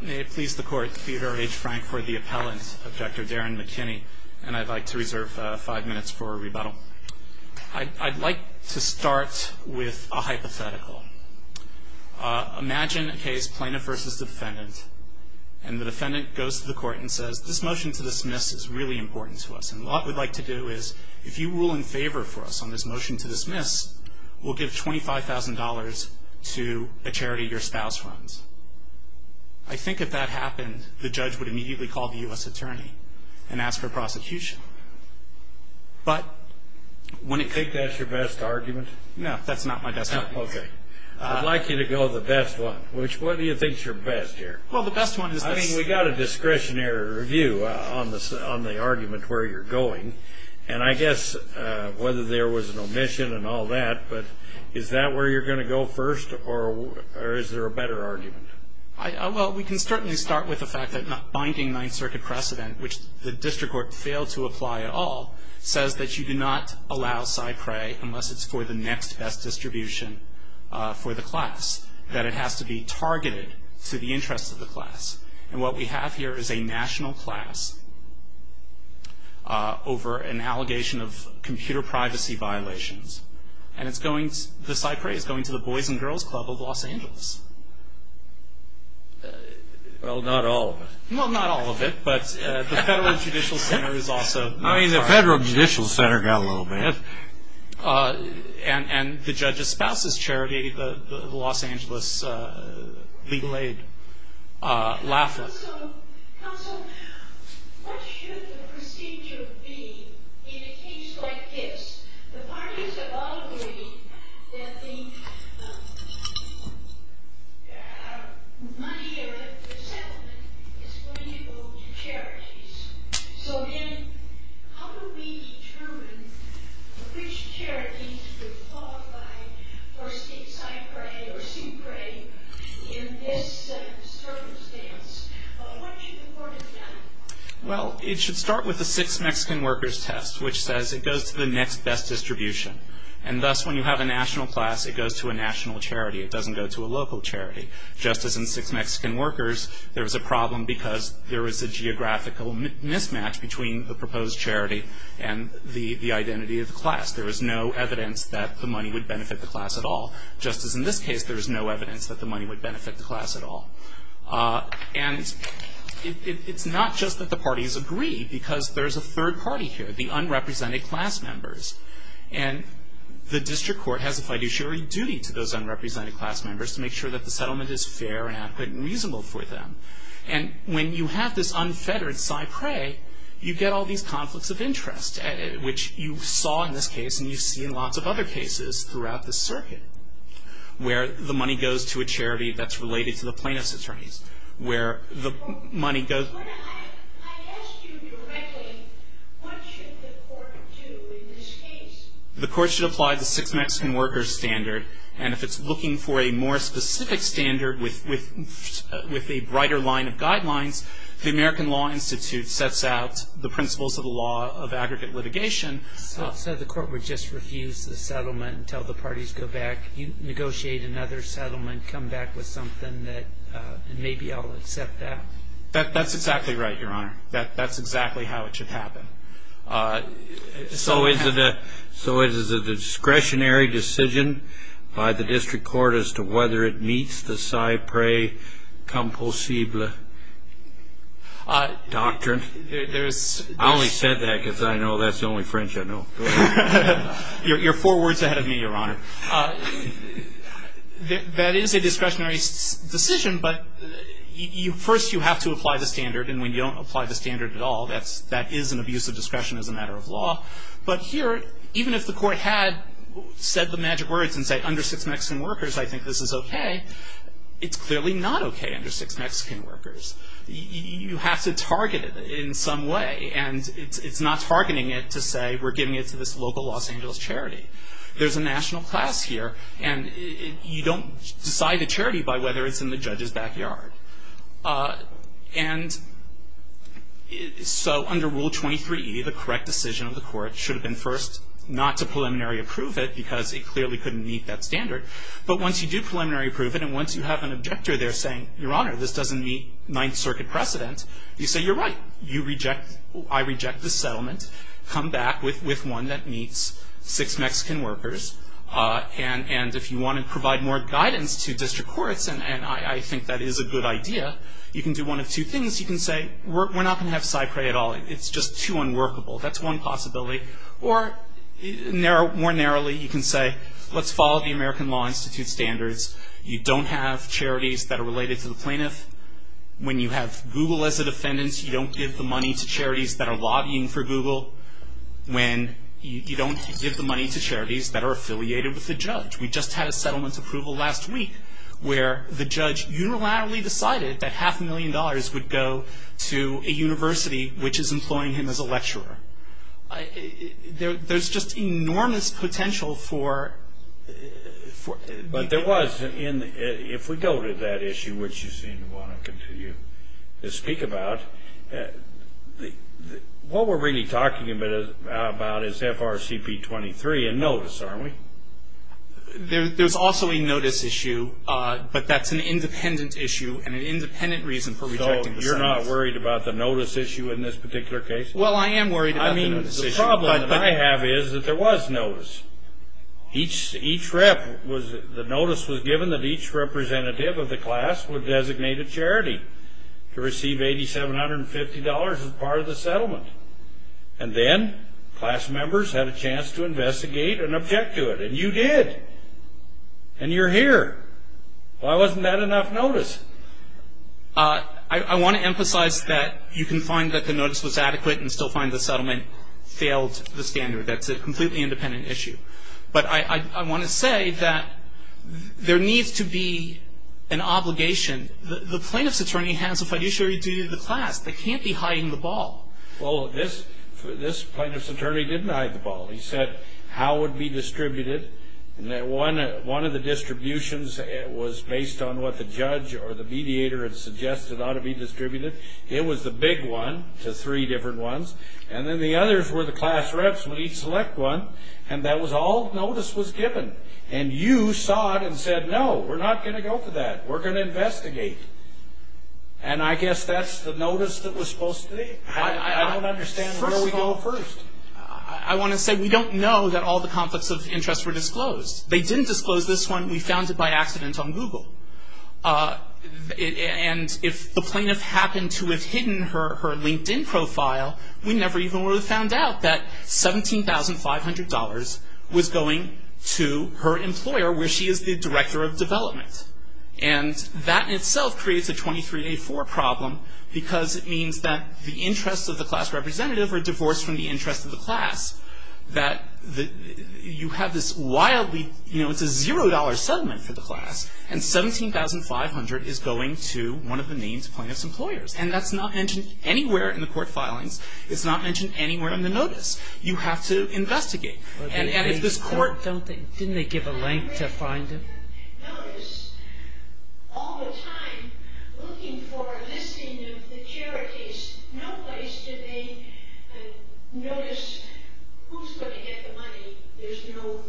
May it please the court, Theodore H. Frankford, the appellant of Dr. Darren McKinney, and I'd like to reserve five minutes for a rebuttal. I'd like to start with a hypothetical. Imagine a case, plaintiff v. defendant, and the defendant goes to the court and says, this motion to dismiss is really important to us, and what we'd like to do is, if you rule in favor for us on this motion to dismiss, we'll give $25,000 to a charity your spouse runs. I think if that happened, the judge would immediately call the U.S. attorney and ask for prosecution. But wouldn't you think that's your best argument? No, that's not my best argument. Okay. I'd like you to go with the best one. Which one do you think is your best, here? Well, the best one is this. I mean, we got a discretionary review on the argument where you're going, and I guess whether there was an omission and all that, but is that where you're going to go first, or is there a better argument? Well, we can certainly start with the fact that binding Ninth Circuit precedent, which the district court failed to apply at all, says that you do not allow side prey unless it's for the next best distribution for the class, that it has to be targeted to the interests of the class. And what we have here is a national class over an allegation of computer privacy violations, and the side prey is going to the Boys and Girls Club of Los Angeles. Well, not all of it. Well, not all of it, but the Federal Judicial Center is also... I mean, the Federal Judicial Center got a little bit. And the judge's spouse's charity, the Los Angeles Legal Aid Lafayette. Counsel, what should the procedure be in a case like this? The parties have all agreed that the money of the settlement is going to go to charities. So then, how do we determine which charities are qualified for side prey or soup prey in this circumstance? What should the court have done? Well, it should start with the six Mexican workers test, which says it goes to the next best distribution. And thus, when you have a national class, it goes to a national charity. It doesn't go to a local charity. Just as in six Mexican workers, there is a problem because there is a geographical mismatch between the proposed charity and the identity of the class. There is no evidence that the money would benefit the class at all. Just as in this case, there is no evidence that the money would benefit the class at all. And it's not just that the parties agree, because there's a third party here, the unrepresented class members. And the district court has a fiduciary duty to those unrepresented class members to make sure that the settlement is fair and adequate and reasonable for them. And when you have this unfettered side prey, you get all these conflicts of interest, which you saw in this case and you see in lots of other cases throughout the circuit. Where the money goes to a charity that's related to the plaintiff's attorneys. I asked you directly, what should the court do in this case? The court should apply the six Mexican workers standard. And if it's looking for a more specific standard with a brighter line of guidelines, the American Law Institute sets out the principles of the law of aggregate litigation. So the court would just refuse the settlement until the parties go back, negotiate another settlement, come back with something that maybe I'll accept that. That's exactly right, Your Honor. That's exactly how it should happen. So is it a discretionary decision by the district court as to whether it meets the side prey composible doctrine? I only said that because I know that's the only French I know. You're four words ahead of me, Your Honor. That is a discretionary decision, but first you have to apply the standard. And when you don't apply the standard at all, that is an abuse of discretion as a matter of law. But here, even if the court had said the magic words and said under six Mexican workers I think this is okay, it's clearly not okay under six Mexican workers. You have to target it in some way. And it's not targeting it to say we're giving it to this local Los Angeles charity. There's a national class here, and you don't decide a charity by whether it's in the judge's backyard. And so under Rule 23E, the correct decision of the court should have been first not to preliminary approve it because it clearly couldn't meet that standard. But once you do preliminary approve it and once you have an objector there saying, Your Honor, this doesn't meet Ninth Circuit precedent, you say you're right. I reject the settlement. Come back with one that meets six Mexican workers. And if you want to provide more guidance to district courts, and I think that is a good idea, you can do one of two things. You can say we're not going to have cypre at all. It's just too unworkable. That's one possibility. Or more narrowly, you can say let's follow the American Law Institute standards. You don't have charities that are related to the plaintiff. When you have Google as a defendant, you don't give the money to charities that are lobbying for Google. When you don't give the money to charities that are affiliated with the judge. We just had a settlement approval last week where the judge unilaterally decided that half a million dollars would go to a university which is employing him as a lecturer. There's just enormous potential for ---- But there was, if we go to that issue, which you seem to want to continue to speak about, what we're really talking about is FRCP 23 and notice, aren't we? There's also a notice issue, but that's an independent issue and an independent reason for rejecting the settlement. So you're not worried about the notice issue in this particular case? Well, I am worried about the notice issue. I mean, the problem that I have is that there was notice. Each rep was, the notice was given that each representative of the class would designate a charity to receive $8,750 as part of the settlement. And then class members had a chance to investigate and object to it. And you did. And you're here. Why wasn't that enough notice? I want to emphasize that you can find that the notice was adequate and still find the settlement failed the standard. That's a completely independent issue. But I want to say that there needs to be an obligation. The plaintiff's attorney has a fiduciary duty to the class. They can't be hiding the ball. Well, this plaintiff's attorney didn't hide the ball. He said how it would be distributed. One of the distributions was based on what the judge or the mediator had suggested ought to be distributed. It was the big one to three different ones. And then the others were the class reps would each select one. And that was all notice was given. And you saw it and said, no, we're not going to go for that. We're going to investigate. And I guess that's the notice that was supposed to be. I don't understand where we go first. I want to say we don't know that all the conflicts of interest were disclosed. They didn't disclose this one. We found it by accident on Google. And if the plaintiff happened to have hidden her LinkedIn profile, we never even would have found out that $17,500 was going to her employer where she is the director of development. And that in itself creates a 23-4 problem because it means that the interests of the class representative are divorced from the interests of the class. That you have this wildly, you know, it's a $0 settlement for the class. And $17,500 is going to one of the named plaintiff's employers. And that's not mentioned anywhere in the court filings. It's not mentioned anywhere in the notice. You have to investigate. And if this court... Didn't they give a link to find it? Notice. All the time looking for a listing of the charities. No place did they notice who's going to get the money. There's no...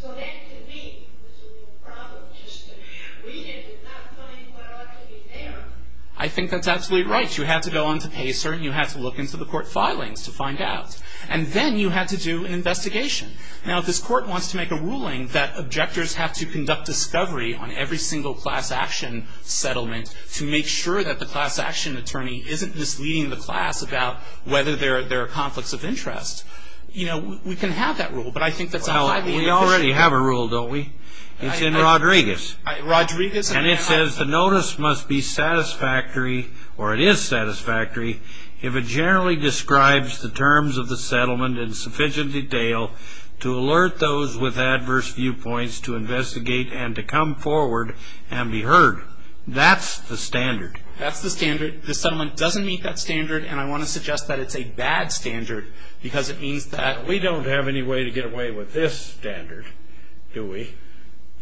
So that to me was a real problem. Just that we did not find what ought to be there. I think that's absolutely right. You had to go on to PACER and you had to look into the court filings to find out. And then you had to do an investigation. Now, if this court wants to make a ruling that objectors have to conduct discovery on every single class action settlement to make sure that the class action attorney isn't misleading the class about whether there are conflicts of interest, you know, we can have that rule. But I think that's highly inefficient. We already have a rule, don't we? It's in Rodriguez. Rodriguez... And it says the notice must be satisfactory, or it is satisfactory, if it generally describes the terms of the settlement in sufficient detail to alert those with adverse viewpoints to investigate and to come forward and be heard. That's the standard. That's the standard. The settlement doesn't meet that standard. And I want to suggest that it's a bad standard because it means that... We don't have any way to get away with this standard, do we?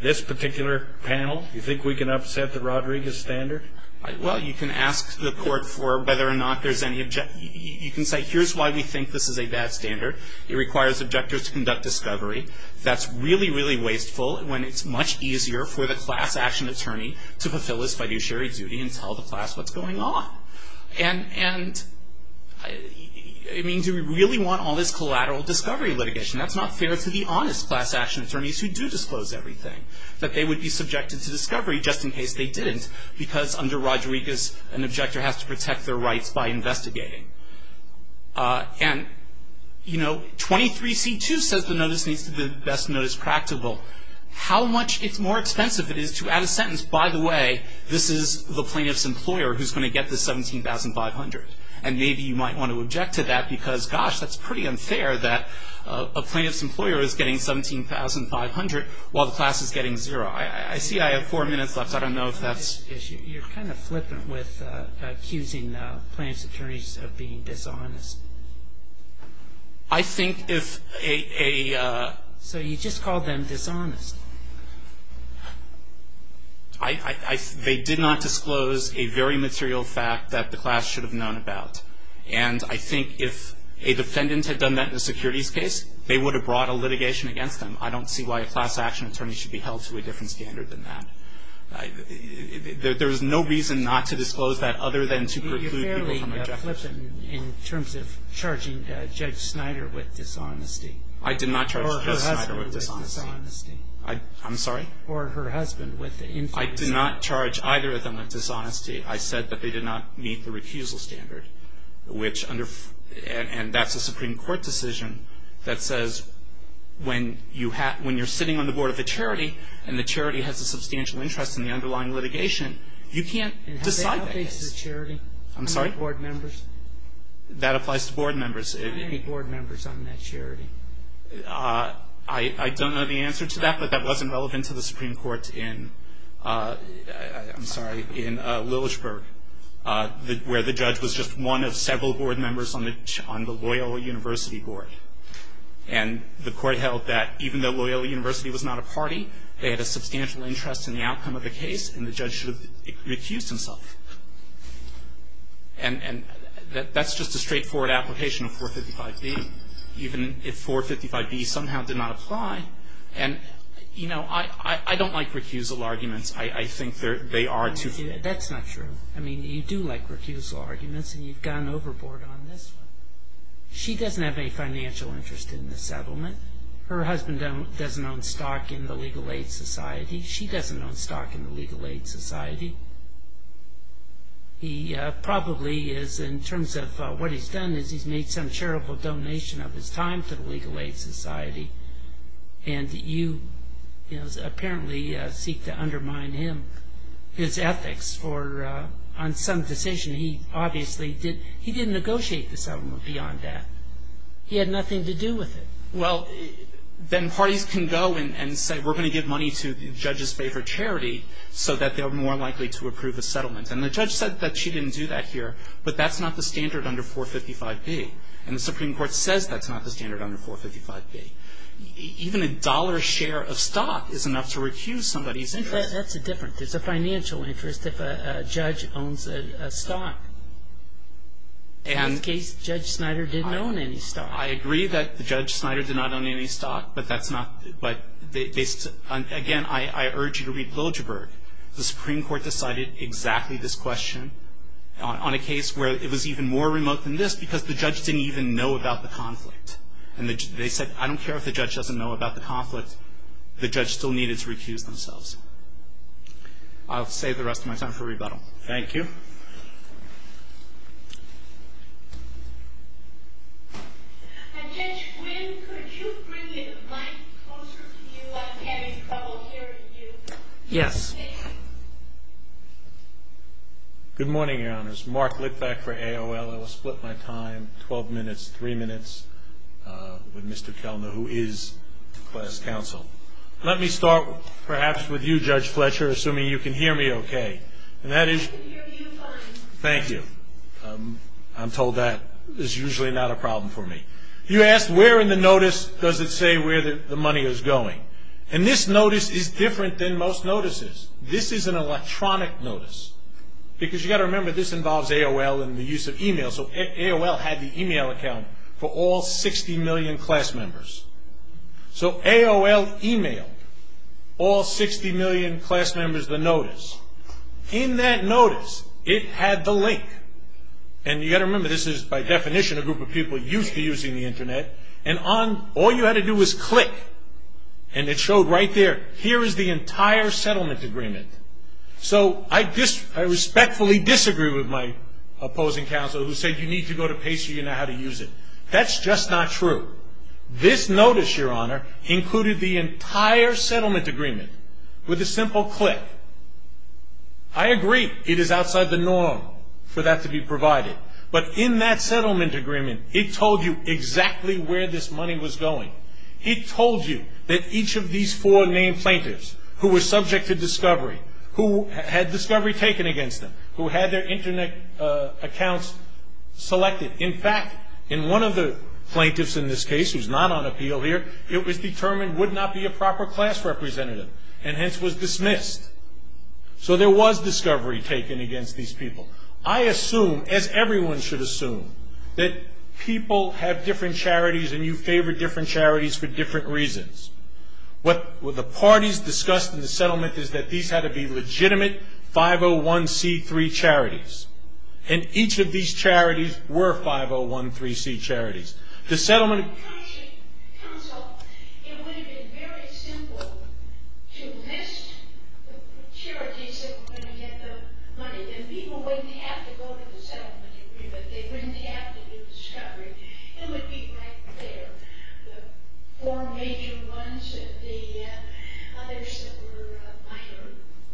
This particular panel, you think we can upset the Rodriguez standard? Well, you can ask the court for whether or not there's any objection. You can say, here's why we think this is a bad standard. It requires objectors to conduct discovery. That's really, really wasteful when it's much easier for the class action attorney to fulfill its fiduciary duty and tell the class what's going on. And, I mean, do we really want all this collateral discovery litigation? That's not fair to the honest class action attorneys who do disclose everything, that they would be subjected to discovery just in case they didn't because under Rodriguez, an objector has to protect their rights by investigating. And, you know, 23C2 says the notice needs to be the best notice practicable. How much more expensive it is to add a sentence, by the way, this is the plaintiff's employer who's going to get the $17,500. And maybe you might want to object to that because, gosh, that's pretty unfair that a plaintiff's employer is getting $17,500 while the class is getting zero. I see I have four minutes left. I don't know if that's... You're kind of flippant with accusing plaintiff's attorneys of being dishonest. I think if a... So you just called them dishonest. They did not disclose a very material fact that the class should have known about. And I think if a defendant had done that in a securities case, they would have brought a litigation against them. I don't see why a class action attorney should be held to a different standard than that. There is no reason not to disclose that other than to preclude people from objection. You're fairly flippant in terms of charging Judge Snyder with dishonesty. I did not charge Judge Snyder with dishonesty. Or her husband with dishonesty. I'm sorry? Or her husband with infamy. I did not charge either of them with dishonesty. I said that they did not meet the refusal standard, which under... And that's a Supreme Court decision that says when you're sitting on the board of a charity and the charity has a substantial interest in the underlying litigation, you can't decide that case. And have they outpaced the charity? I'm sorry? Any board members? That applies to board members. Any board members on that charity? I don't know the answer to that, but that wasn't relevant to the Supreme Court in... I'm sorry. In Lilichburg, where the judge was just one of several board members on the Loyola University board. And the court held that even though Loyola University was not a party, they had a substantial interest in the outcome of the case, and the judge should have recused himself. And that's just a straightforward application of 455B, even if 455B somehow did not apply. And, you know, I don't like recusal arguments. I think they are too... That's not true. I mean, you do like recusal arguments, and you've gone overboard on this one. She doesn't have any financial interest in the settlement. Her husband doesn't own stock in the Legal Aid Society. She doesn't own stock in the Legal Aid Society. He probably is, in terms of what he's done, is he's made some charitable donation of his time to the Legal Aid Society, and you, you know, apparently seek to undermine him, his ethics. Or on some decision, he obviously did... He didn't negotiate the settlement beyond that. He had nothing to do with it. Well, then parties can go and say, we're going to give money to the judge's favor charity, so that they're more likely to approve a settlement. And the judge said that she didn't do that here, but that's not the standard under 455B. And the Supreme Court says that's not the standard under 455B. Even a dollar share of stock is enough to recuse somebody's interest. That's a difference. There's a financial interest if a judge owns a stock. In this case, Judge Snyder didn't own any stock. I agree that Judge Snyder did not own any stock, but that's not... Again, I urge you to read Pilgerberg. The Supreme Court decided exactly this question on a case where it was even more remote than this because the judge didn't even know about the conflict. And they said, I don't care if the judge doesn't know about the conflict. The judge still needed to recuse themselves. I'll save the rest of my time for rebuttal. Thank you. Judge Quinn, could you bring the mic closer to you? I'm having trouble hearing you. Yes. Good morning, Your Honors. This is Mark Litvak for AOL. I will split my time, 12 minutes, 3 minutes, with Mr. Kelner, who is class counsel. Let me start, perhaps, with you, Judge Fletcher, assuming you can hear me okay. I can hear you fine. Thank you. I'm told that is usually not a problem for me. You asked, where in the notice does it say where the money is going? And this notice is different than most notices. This is an electronic notice because you've got to remember, this involves AOL and the use of e-mail. So AOL had the e-mail account for all 60 million class members. So AOL e-mailed all 60 million class members the notice. In that notice, it had the link. And you've got to remember, this is, by definition, a group of people used to using the Internet. And all you had to do was click. And it showed right there, here is the entire settlement agreement. So I respectfully disagree with my opposing counsel who said, you need to go to PACER, you know how to use it. That's just not true. This notice, Your Honor, included the entire settlement agreement with a simple click. I agree, it is outside the norm for that to be provided. But in that settlement agreement, it told you exactly where this money was going. It told you that each of these four named plaintiffs who were subject to discovery, who had discovery taken against them, who had their Internet accounts selected. In fact, in one of the plaintiffs in this case, who is not on appeal here, it was determined would not be a proper class representative and hence was dismissed. So there was discovery taken against these people. I assume, as everyone should assume, that people have different charities and you favor different charities for different reasons. What the parties discussed in the settlement is that these had to be legitimate 501c3 charities. And each of these charities were 501c3 charities. The settlement agreement...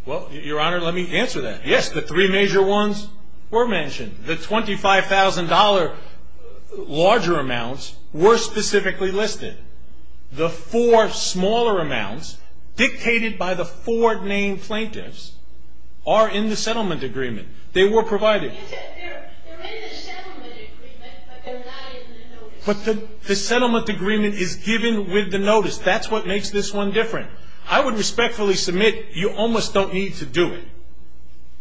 Well, Your Honor, let me answer that. Yes, the three major ones were mentioned. The $25,000 larger amounts were specifically listed. The four smaller amounts, dictated by the four named plaintiffs, are in the settlement agreement. They were provided. They're in the settlement agreement, but they're not in the notice. But the settlement agreement is given with the notice. That's what makes this one different. I would respectfully submit you almost don't need to do it.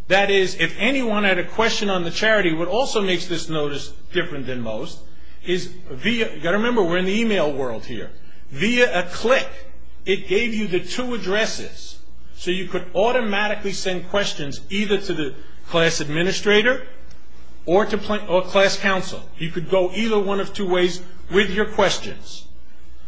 That is, if anyone had a question on the charity, what also makes this notice different than most is via... You've got to remember, we're in the email world here. Via a click, it gave you the two addresses. So you could automatically send questions either to the class administrator or to class counsel. You could go either one of two ways with your questions.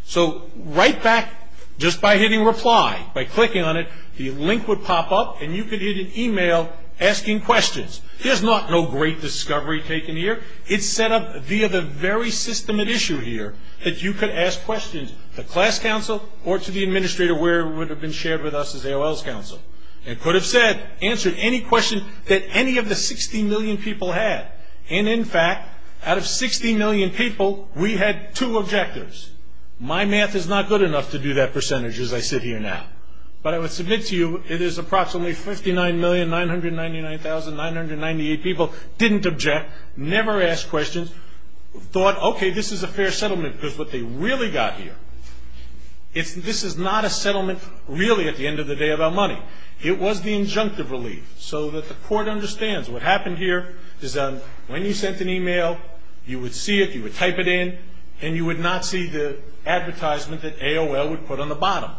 So right back, just by hitting reply, by clicking on it, the link would pop up, and you could get an email asking questions. There's not no great discovery taken here. It's set up via the very system at issue here that you could ask questions to class counsel or to the administrator where it would have been shared with us as AOL's counsel. It could have said, answered any question that any of the 60 million people had. And, in fact, out of 60 million people, we had two objectives. My math is not good enough to do that percentage as I sit here now. But I would submit to you it is approximately 59,999,998 people didn't object, never asked questions, thought, okay, this is a fair settlement because what they really got here, this is not a settlement really at the end of the day about money. It was the injunctive relief so that the court understands what happened here is when you sent an email, you would see it, you would type it in, and you would not see the advertisement that AOL would put on the bottom.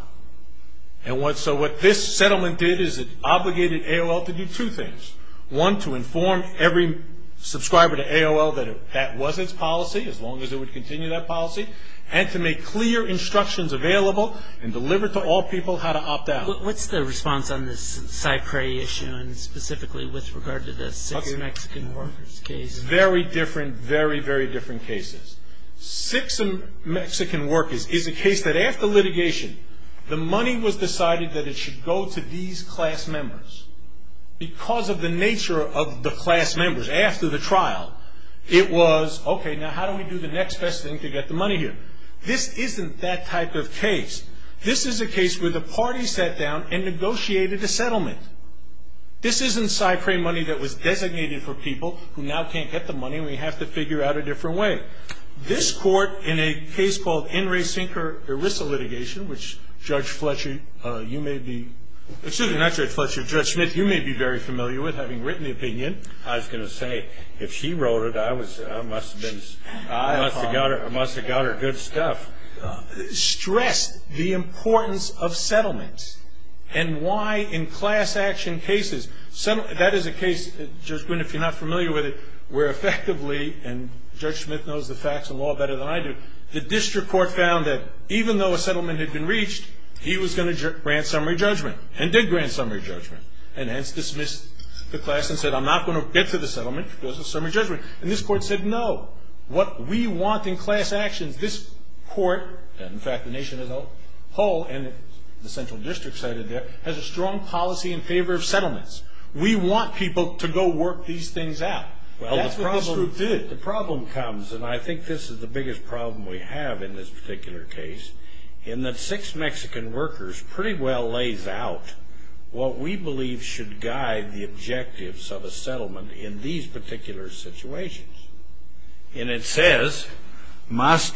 And so what this settlement did is it obligated AOL to do two things. One, to inform every subscriber to AOL that that was its policy, as long as it would continue that policy, and to make clear instructions available and deliver to all people how to opt out. What's the response on this Cypre issue and specifically with regard to the six Mexican workers case? Very different, very, very different cases. Six Mexican workers is a case that after litigation, the money was decided that it should go to these class members. Because of the nature of the class members after the trial, it was, okay, now how do we do the next best thing to get the money here? This isn't that type of case. This is a case where the party sat down and negotiated a settlement. This isn't Cypre money that was designated for people who now can't get the money. We have to figure out a different way. This court in a case called Enri Sinker ERISA litigation, which Judge Fletcher, you may be, excuse me, not Judge Fletcher, Judge Smith, you may be very familiar with, having written the opinion. I was going to say, if she wrote it, I must have been, I must have got her good stuff. Stressed the importance of settlements and why in class action cases, that is a case, Judge Boone, if you're not familiar with it, where effectively, and Judge Smith knows the facts of law better than I do, the district court found that even though a settlement had been reached, he was going to grant summary judgment and did grant summary judgment. And hence dismissed the class and said, I'm not going to get to the settlement because of summary judgment. And this court said, no. What we want in class actions, this court, and in fact the nation as a whole, and the central district cited there, has a strong policy in favor of settlements. We want people to go work these things out. That's what this group did. The problem comes, and I think this is the biggest problem we have in this particular case, in that Six Mexican Workers pretty well lays out what we believe should guide the objectives of a settlement in these particular situations. And it says, must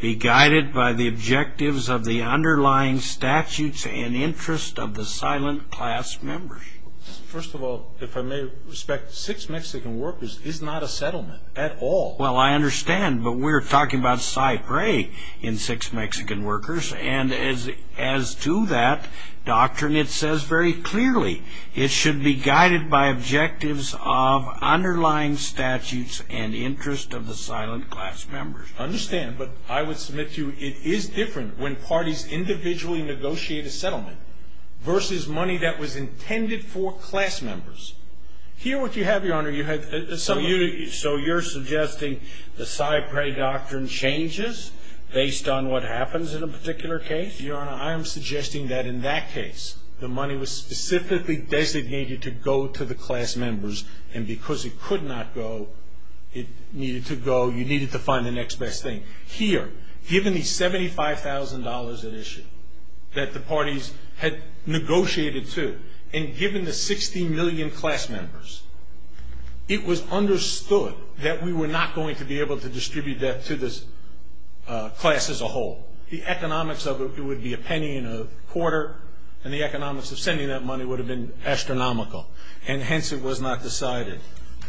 be guided by the objectives of the underlying statutes and interest of the silent class members. First of all, if I may respect, Six Mexican Workers is not a settlement at all. Well, I understand. But we're talking about Cy Gray in Six Mexican Workers. And as to that doctrine, it says very clearly it should be guided by objectives of underlying statutes and interest of the silent class members. I understand. But I would submit to you it is different when parties individually negotiate a settlement versus money that was intended for class members. Here what you have, Your Honor, you have a settlement. So you're suggesting the Cy Gray doctrine changes based on what happens in a particular case? Your Honor, I am suggesting that in that case the money was specifically designated to go to the class members, and because it could not go, it needed to go, you needed to find the next best thing. Here, given the $75,000 at issue that the parties had negotiated to, and given the 60 million class members, it was understood that we were not going to be able to distribute that to this class as a whole. The economics of it would be a penny and a quarter, and the economics of sending that money would have been astronomical, and hence it was not decided.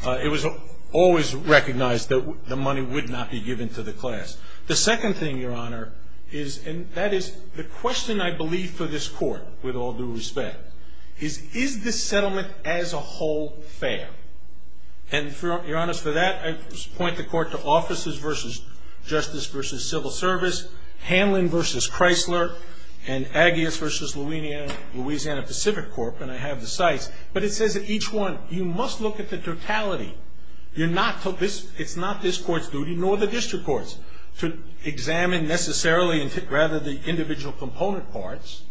It was always recognized that the money would not be given to the class. The second thing, Your Honor, is, and that is the question I believe for this court, with all due respect, is, is this settlement as a whole fair? And, Your Honor, for that I point the court to Offices v. Justice v. Civil Service, Hanlon v. Chrysler, and Aggies v. Louisiana Pacific Corp., and I have the sites, but it says that each one, you must look at the totality. You're not, it's not this court's duty, nor the district court's, to examine necessarily rather the individual component parts.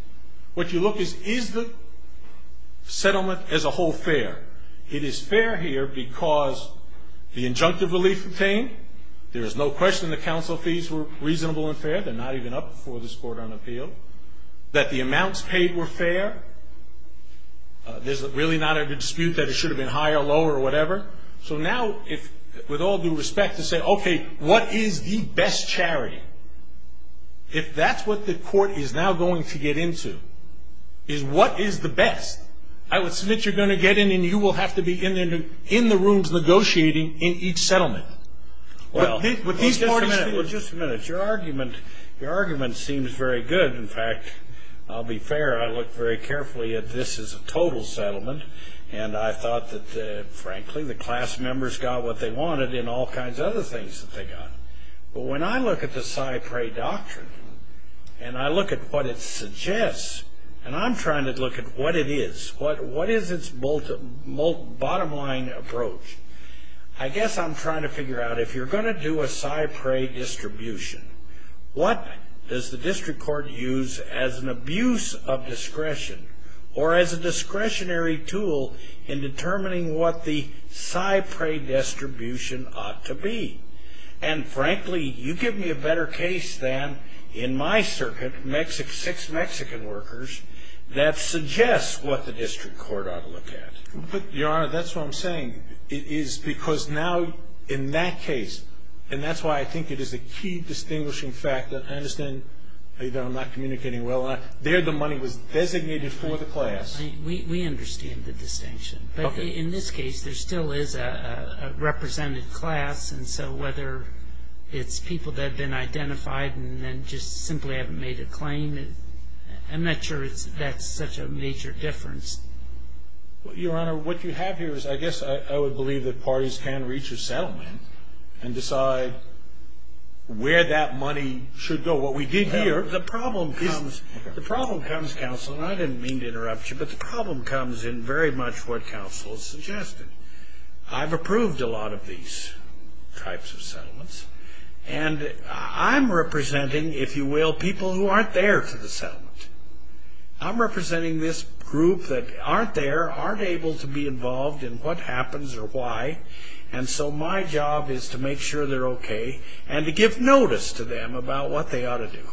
What you look is, is the settlement as a whole fair? It is fair here because the injunctive relief obtained, there is no question the counsel fees were reasonable and fair, they're not even up before this court on appeal, that the amounts paid were fair. There's really not a dispute that it should have been higher, lower, whatever. So now, with all due respect, to say, okay, what is the best charity? If that's what the court is now going to get into, is what is the best? I would submit you're going to get in and you will have to be in the rooms negotiating in each settlement. Well, just a minute, just a minute. Your argument, your argument seems very good. In fact, I'll be fair, I look very carefully at this as a total settlement, and I thought that, frankly, the class members got what they wanted in all kinds of other things that they got. But when I look at the PSI PREA doctrine, and I look at what it suggests, and I'm trying to look at what it is, what is its bottom line approach? I guess I'm trying to figure out, if you're going to do a PSI PREA distribution, what does the district court use as an abuse of discretion, or as a discretionary tool in determining what the PSI PREA distribution ought to be? And, frankly, you give me a better case than, in my circuit, six Mexican workers, that suggests what the district court ought to look at. But, Your Honor, that's what I'm saying, is because now, in that case, and that's why I think it is a key distinguishing factor. I understand that I'm not communicating well. There, the money was designated for the class. We understand the distinction. Okay. But in this case, there still is a represented class, and so whether it's people that have been identified and then just simply haven't made a claim, I'm not sure that's such a major difference. Well, Your Honor, what you have here is, I guess, I would believe that parties can reach a settlement and decide where that money should go. What we did here, the problem comes, the problem comes, counsel, and I didn't mean to interrupt you, but the problem comes in very much what counsel has suggested. I've approved a lot of these types of settlements, and I'm representing, if you will, people who aren't there for the settlement. I'm representing this group that aren't there, aren't able to be involved in what happens or why, and so my job is to make sure they're okay and to give notice to them about what they ought to do.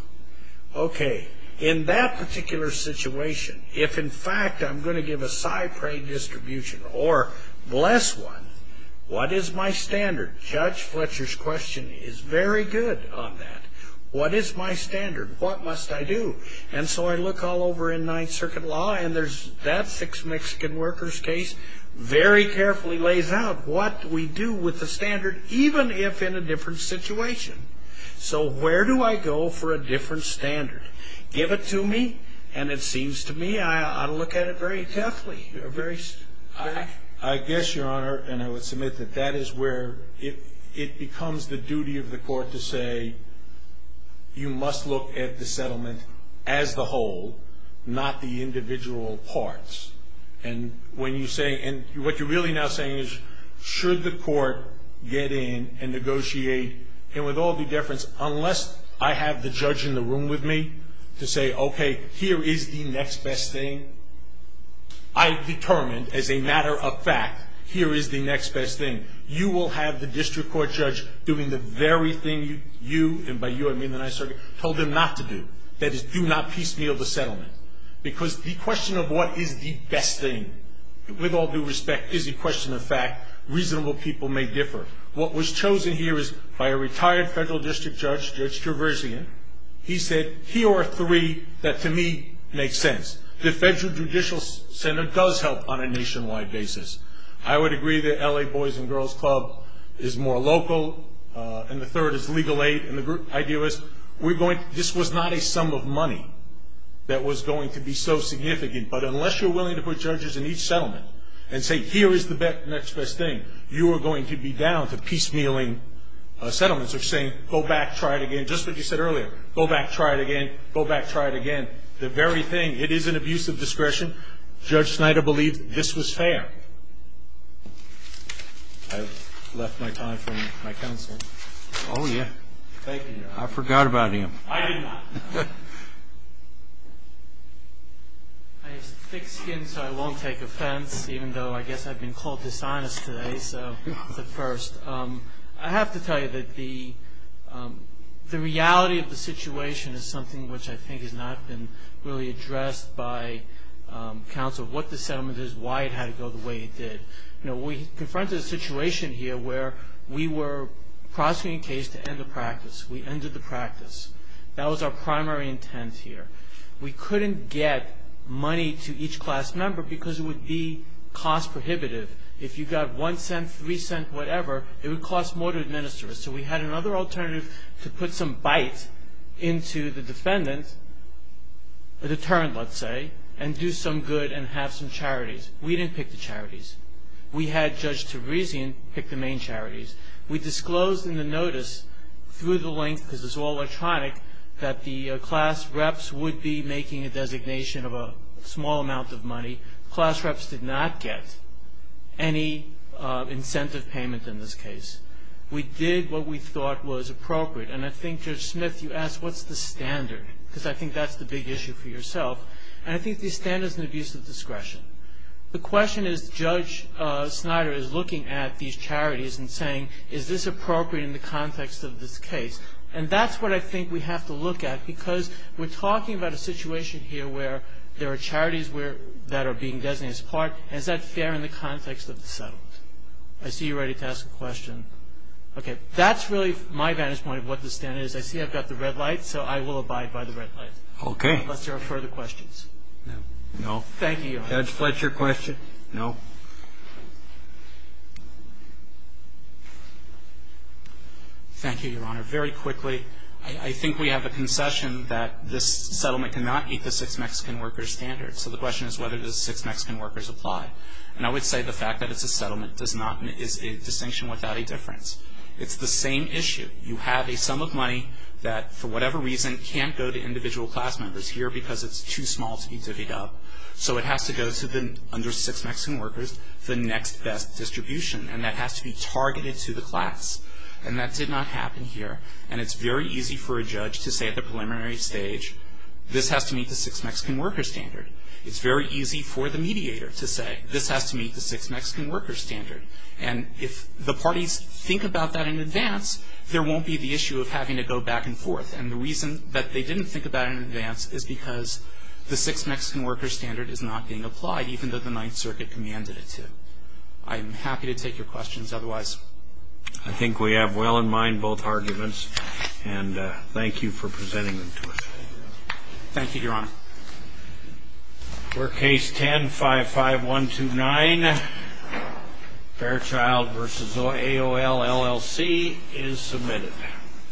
Okay. In that particular situation, if, in fact, I'm going to give a Cypre distribution or bless one, what is my standard? Judge Fletcher's question is very good on that. What is my standard? What must I do? And so I look all over in Ninth Circuit law, and there's that six Mexican workers case, very carefully lays out what we do with the standard, even if in a different situation. So where do I go for a different standard? Give it to me, and it seems to me I ought to look at it very carefully. I guess, Your Honor, and I would submit that that is where it becomes the duty of the court to say, you must look at the settlement as the whole, not the individual parts. And when you say, and what you're really now saying is, should the court get in and negotiate, and with all due difference, unless I have the judge in the room with me to say, okay, here is the next best thing, I've determined as a matter of fact, here is the next best thing. You will have the district court judge doing the very thing you, and by you I mean the Ninth Circuit, told him not to do. That is, do not piecemeal the settlement. Because the question of what is the best thing, with all due respect, is a question of fact. Reasonable people may differ. What was chosen here is by a retired federal district judge, Judge Traversian. He said, here are three that to me make sense. The federal judicial center does help on a nationwide basis. I would agree that L.A. Boys and Girls Club is more local. And the third is legal aid. And the idea was, this was not a sum of money that was going to be so significant. But unless you're willing to put judges in each settlement and say, here is the next best thing, you are going to be down to piecemealing settlements. You're saying, go back, try it again, just like you said earlier. Go back, try it again. Go back, try it again. The very thing, it is an abuse of discretion. Judge Snyder believed this was fair. I've left my time for my counselor. Oh, yeah. Thank you, Your Honor. I forgot about him. I did not. I have thick skin, so I won't take offense, even though I guess I've been called dishonest today. So that's a first. I have to tell you that the reality of the situation is something which I think has not been really addressed by counsel, what the settlement is, why it had to go the way it did. You know, we confronted a situation here where we were prosecuting a case to end the practice. We ended the practice. That was our primary intent here. We couldn't get money to each class member because it would be cost prohibitive. If you got one cent, three cent, whatever, it would cost more to administer it. So we had another alternative to put some bite into the defendant, a deterrent, let's say, and do some good and have some charities. We didn't pick the charities. We had Judge Teresian pick the main charities. We disclosed in the notice through the link, because it's all electronic, that the class reps would be making a designation of a small amount of money. Class reps did not get any incentive payment in this case. We did what we thought was appropriate. And I think, Judge Smith, you asked, what's the standard? Because I think that's the big issue for yourself. And I think the standard is an abuse of discretion. The question is, Judge Snyder is looking at these charities and saying, is this appropriate in the context of this case? And that's what I think we have to look at because we're talking about a situation here where there are charities that are being designated as part. Is that fair in the context of the settlement? I see you're ready to ask a question. Okay. That's really my vantage point of what the standard is. I see I've got the red light, so I will abide by the red light. Okay. Unless there are further questions. No. Thank you, Your Honor. Judge Fletcher, question? No. Thank you, Your Honor. Very quickly, I think we have a concession that this settlement cannot meet the six Mexican workers standard. So the question is whether the six Mexican workers apply. And I would say the fact that it's a settlement is a distinction without a difference. It's the same issue. You have a sum of money that, for whatever reason, can't go to individual class members here because it's too small to be divvied up. So it has to go to, under six Mexican workers, the next best distribution, and that has to be targeted to the class. And that did not happen here. And it's very easy for a judge to say at the preliminary stage, this has to meet the six Mexican workers standard. It's very easy for the mediator to say, this has to meet the six Mexican workers standard. And if the parties think about that in advance, there won't be the issue of having to go back and forth. And the reason that they didn't think about it in advance is because the six Mexican workers standard is not being applied, even though the Ninth Circuit commanded it to. I am happy to take your questions otherwise. I think we have well in mind both arguments, and thank you for presenting them to us. Thank you, Your Honor. Court Case 10-55129, Fairchild v. AOL, LLC, is submitted.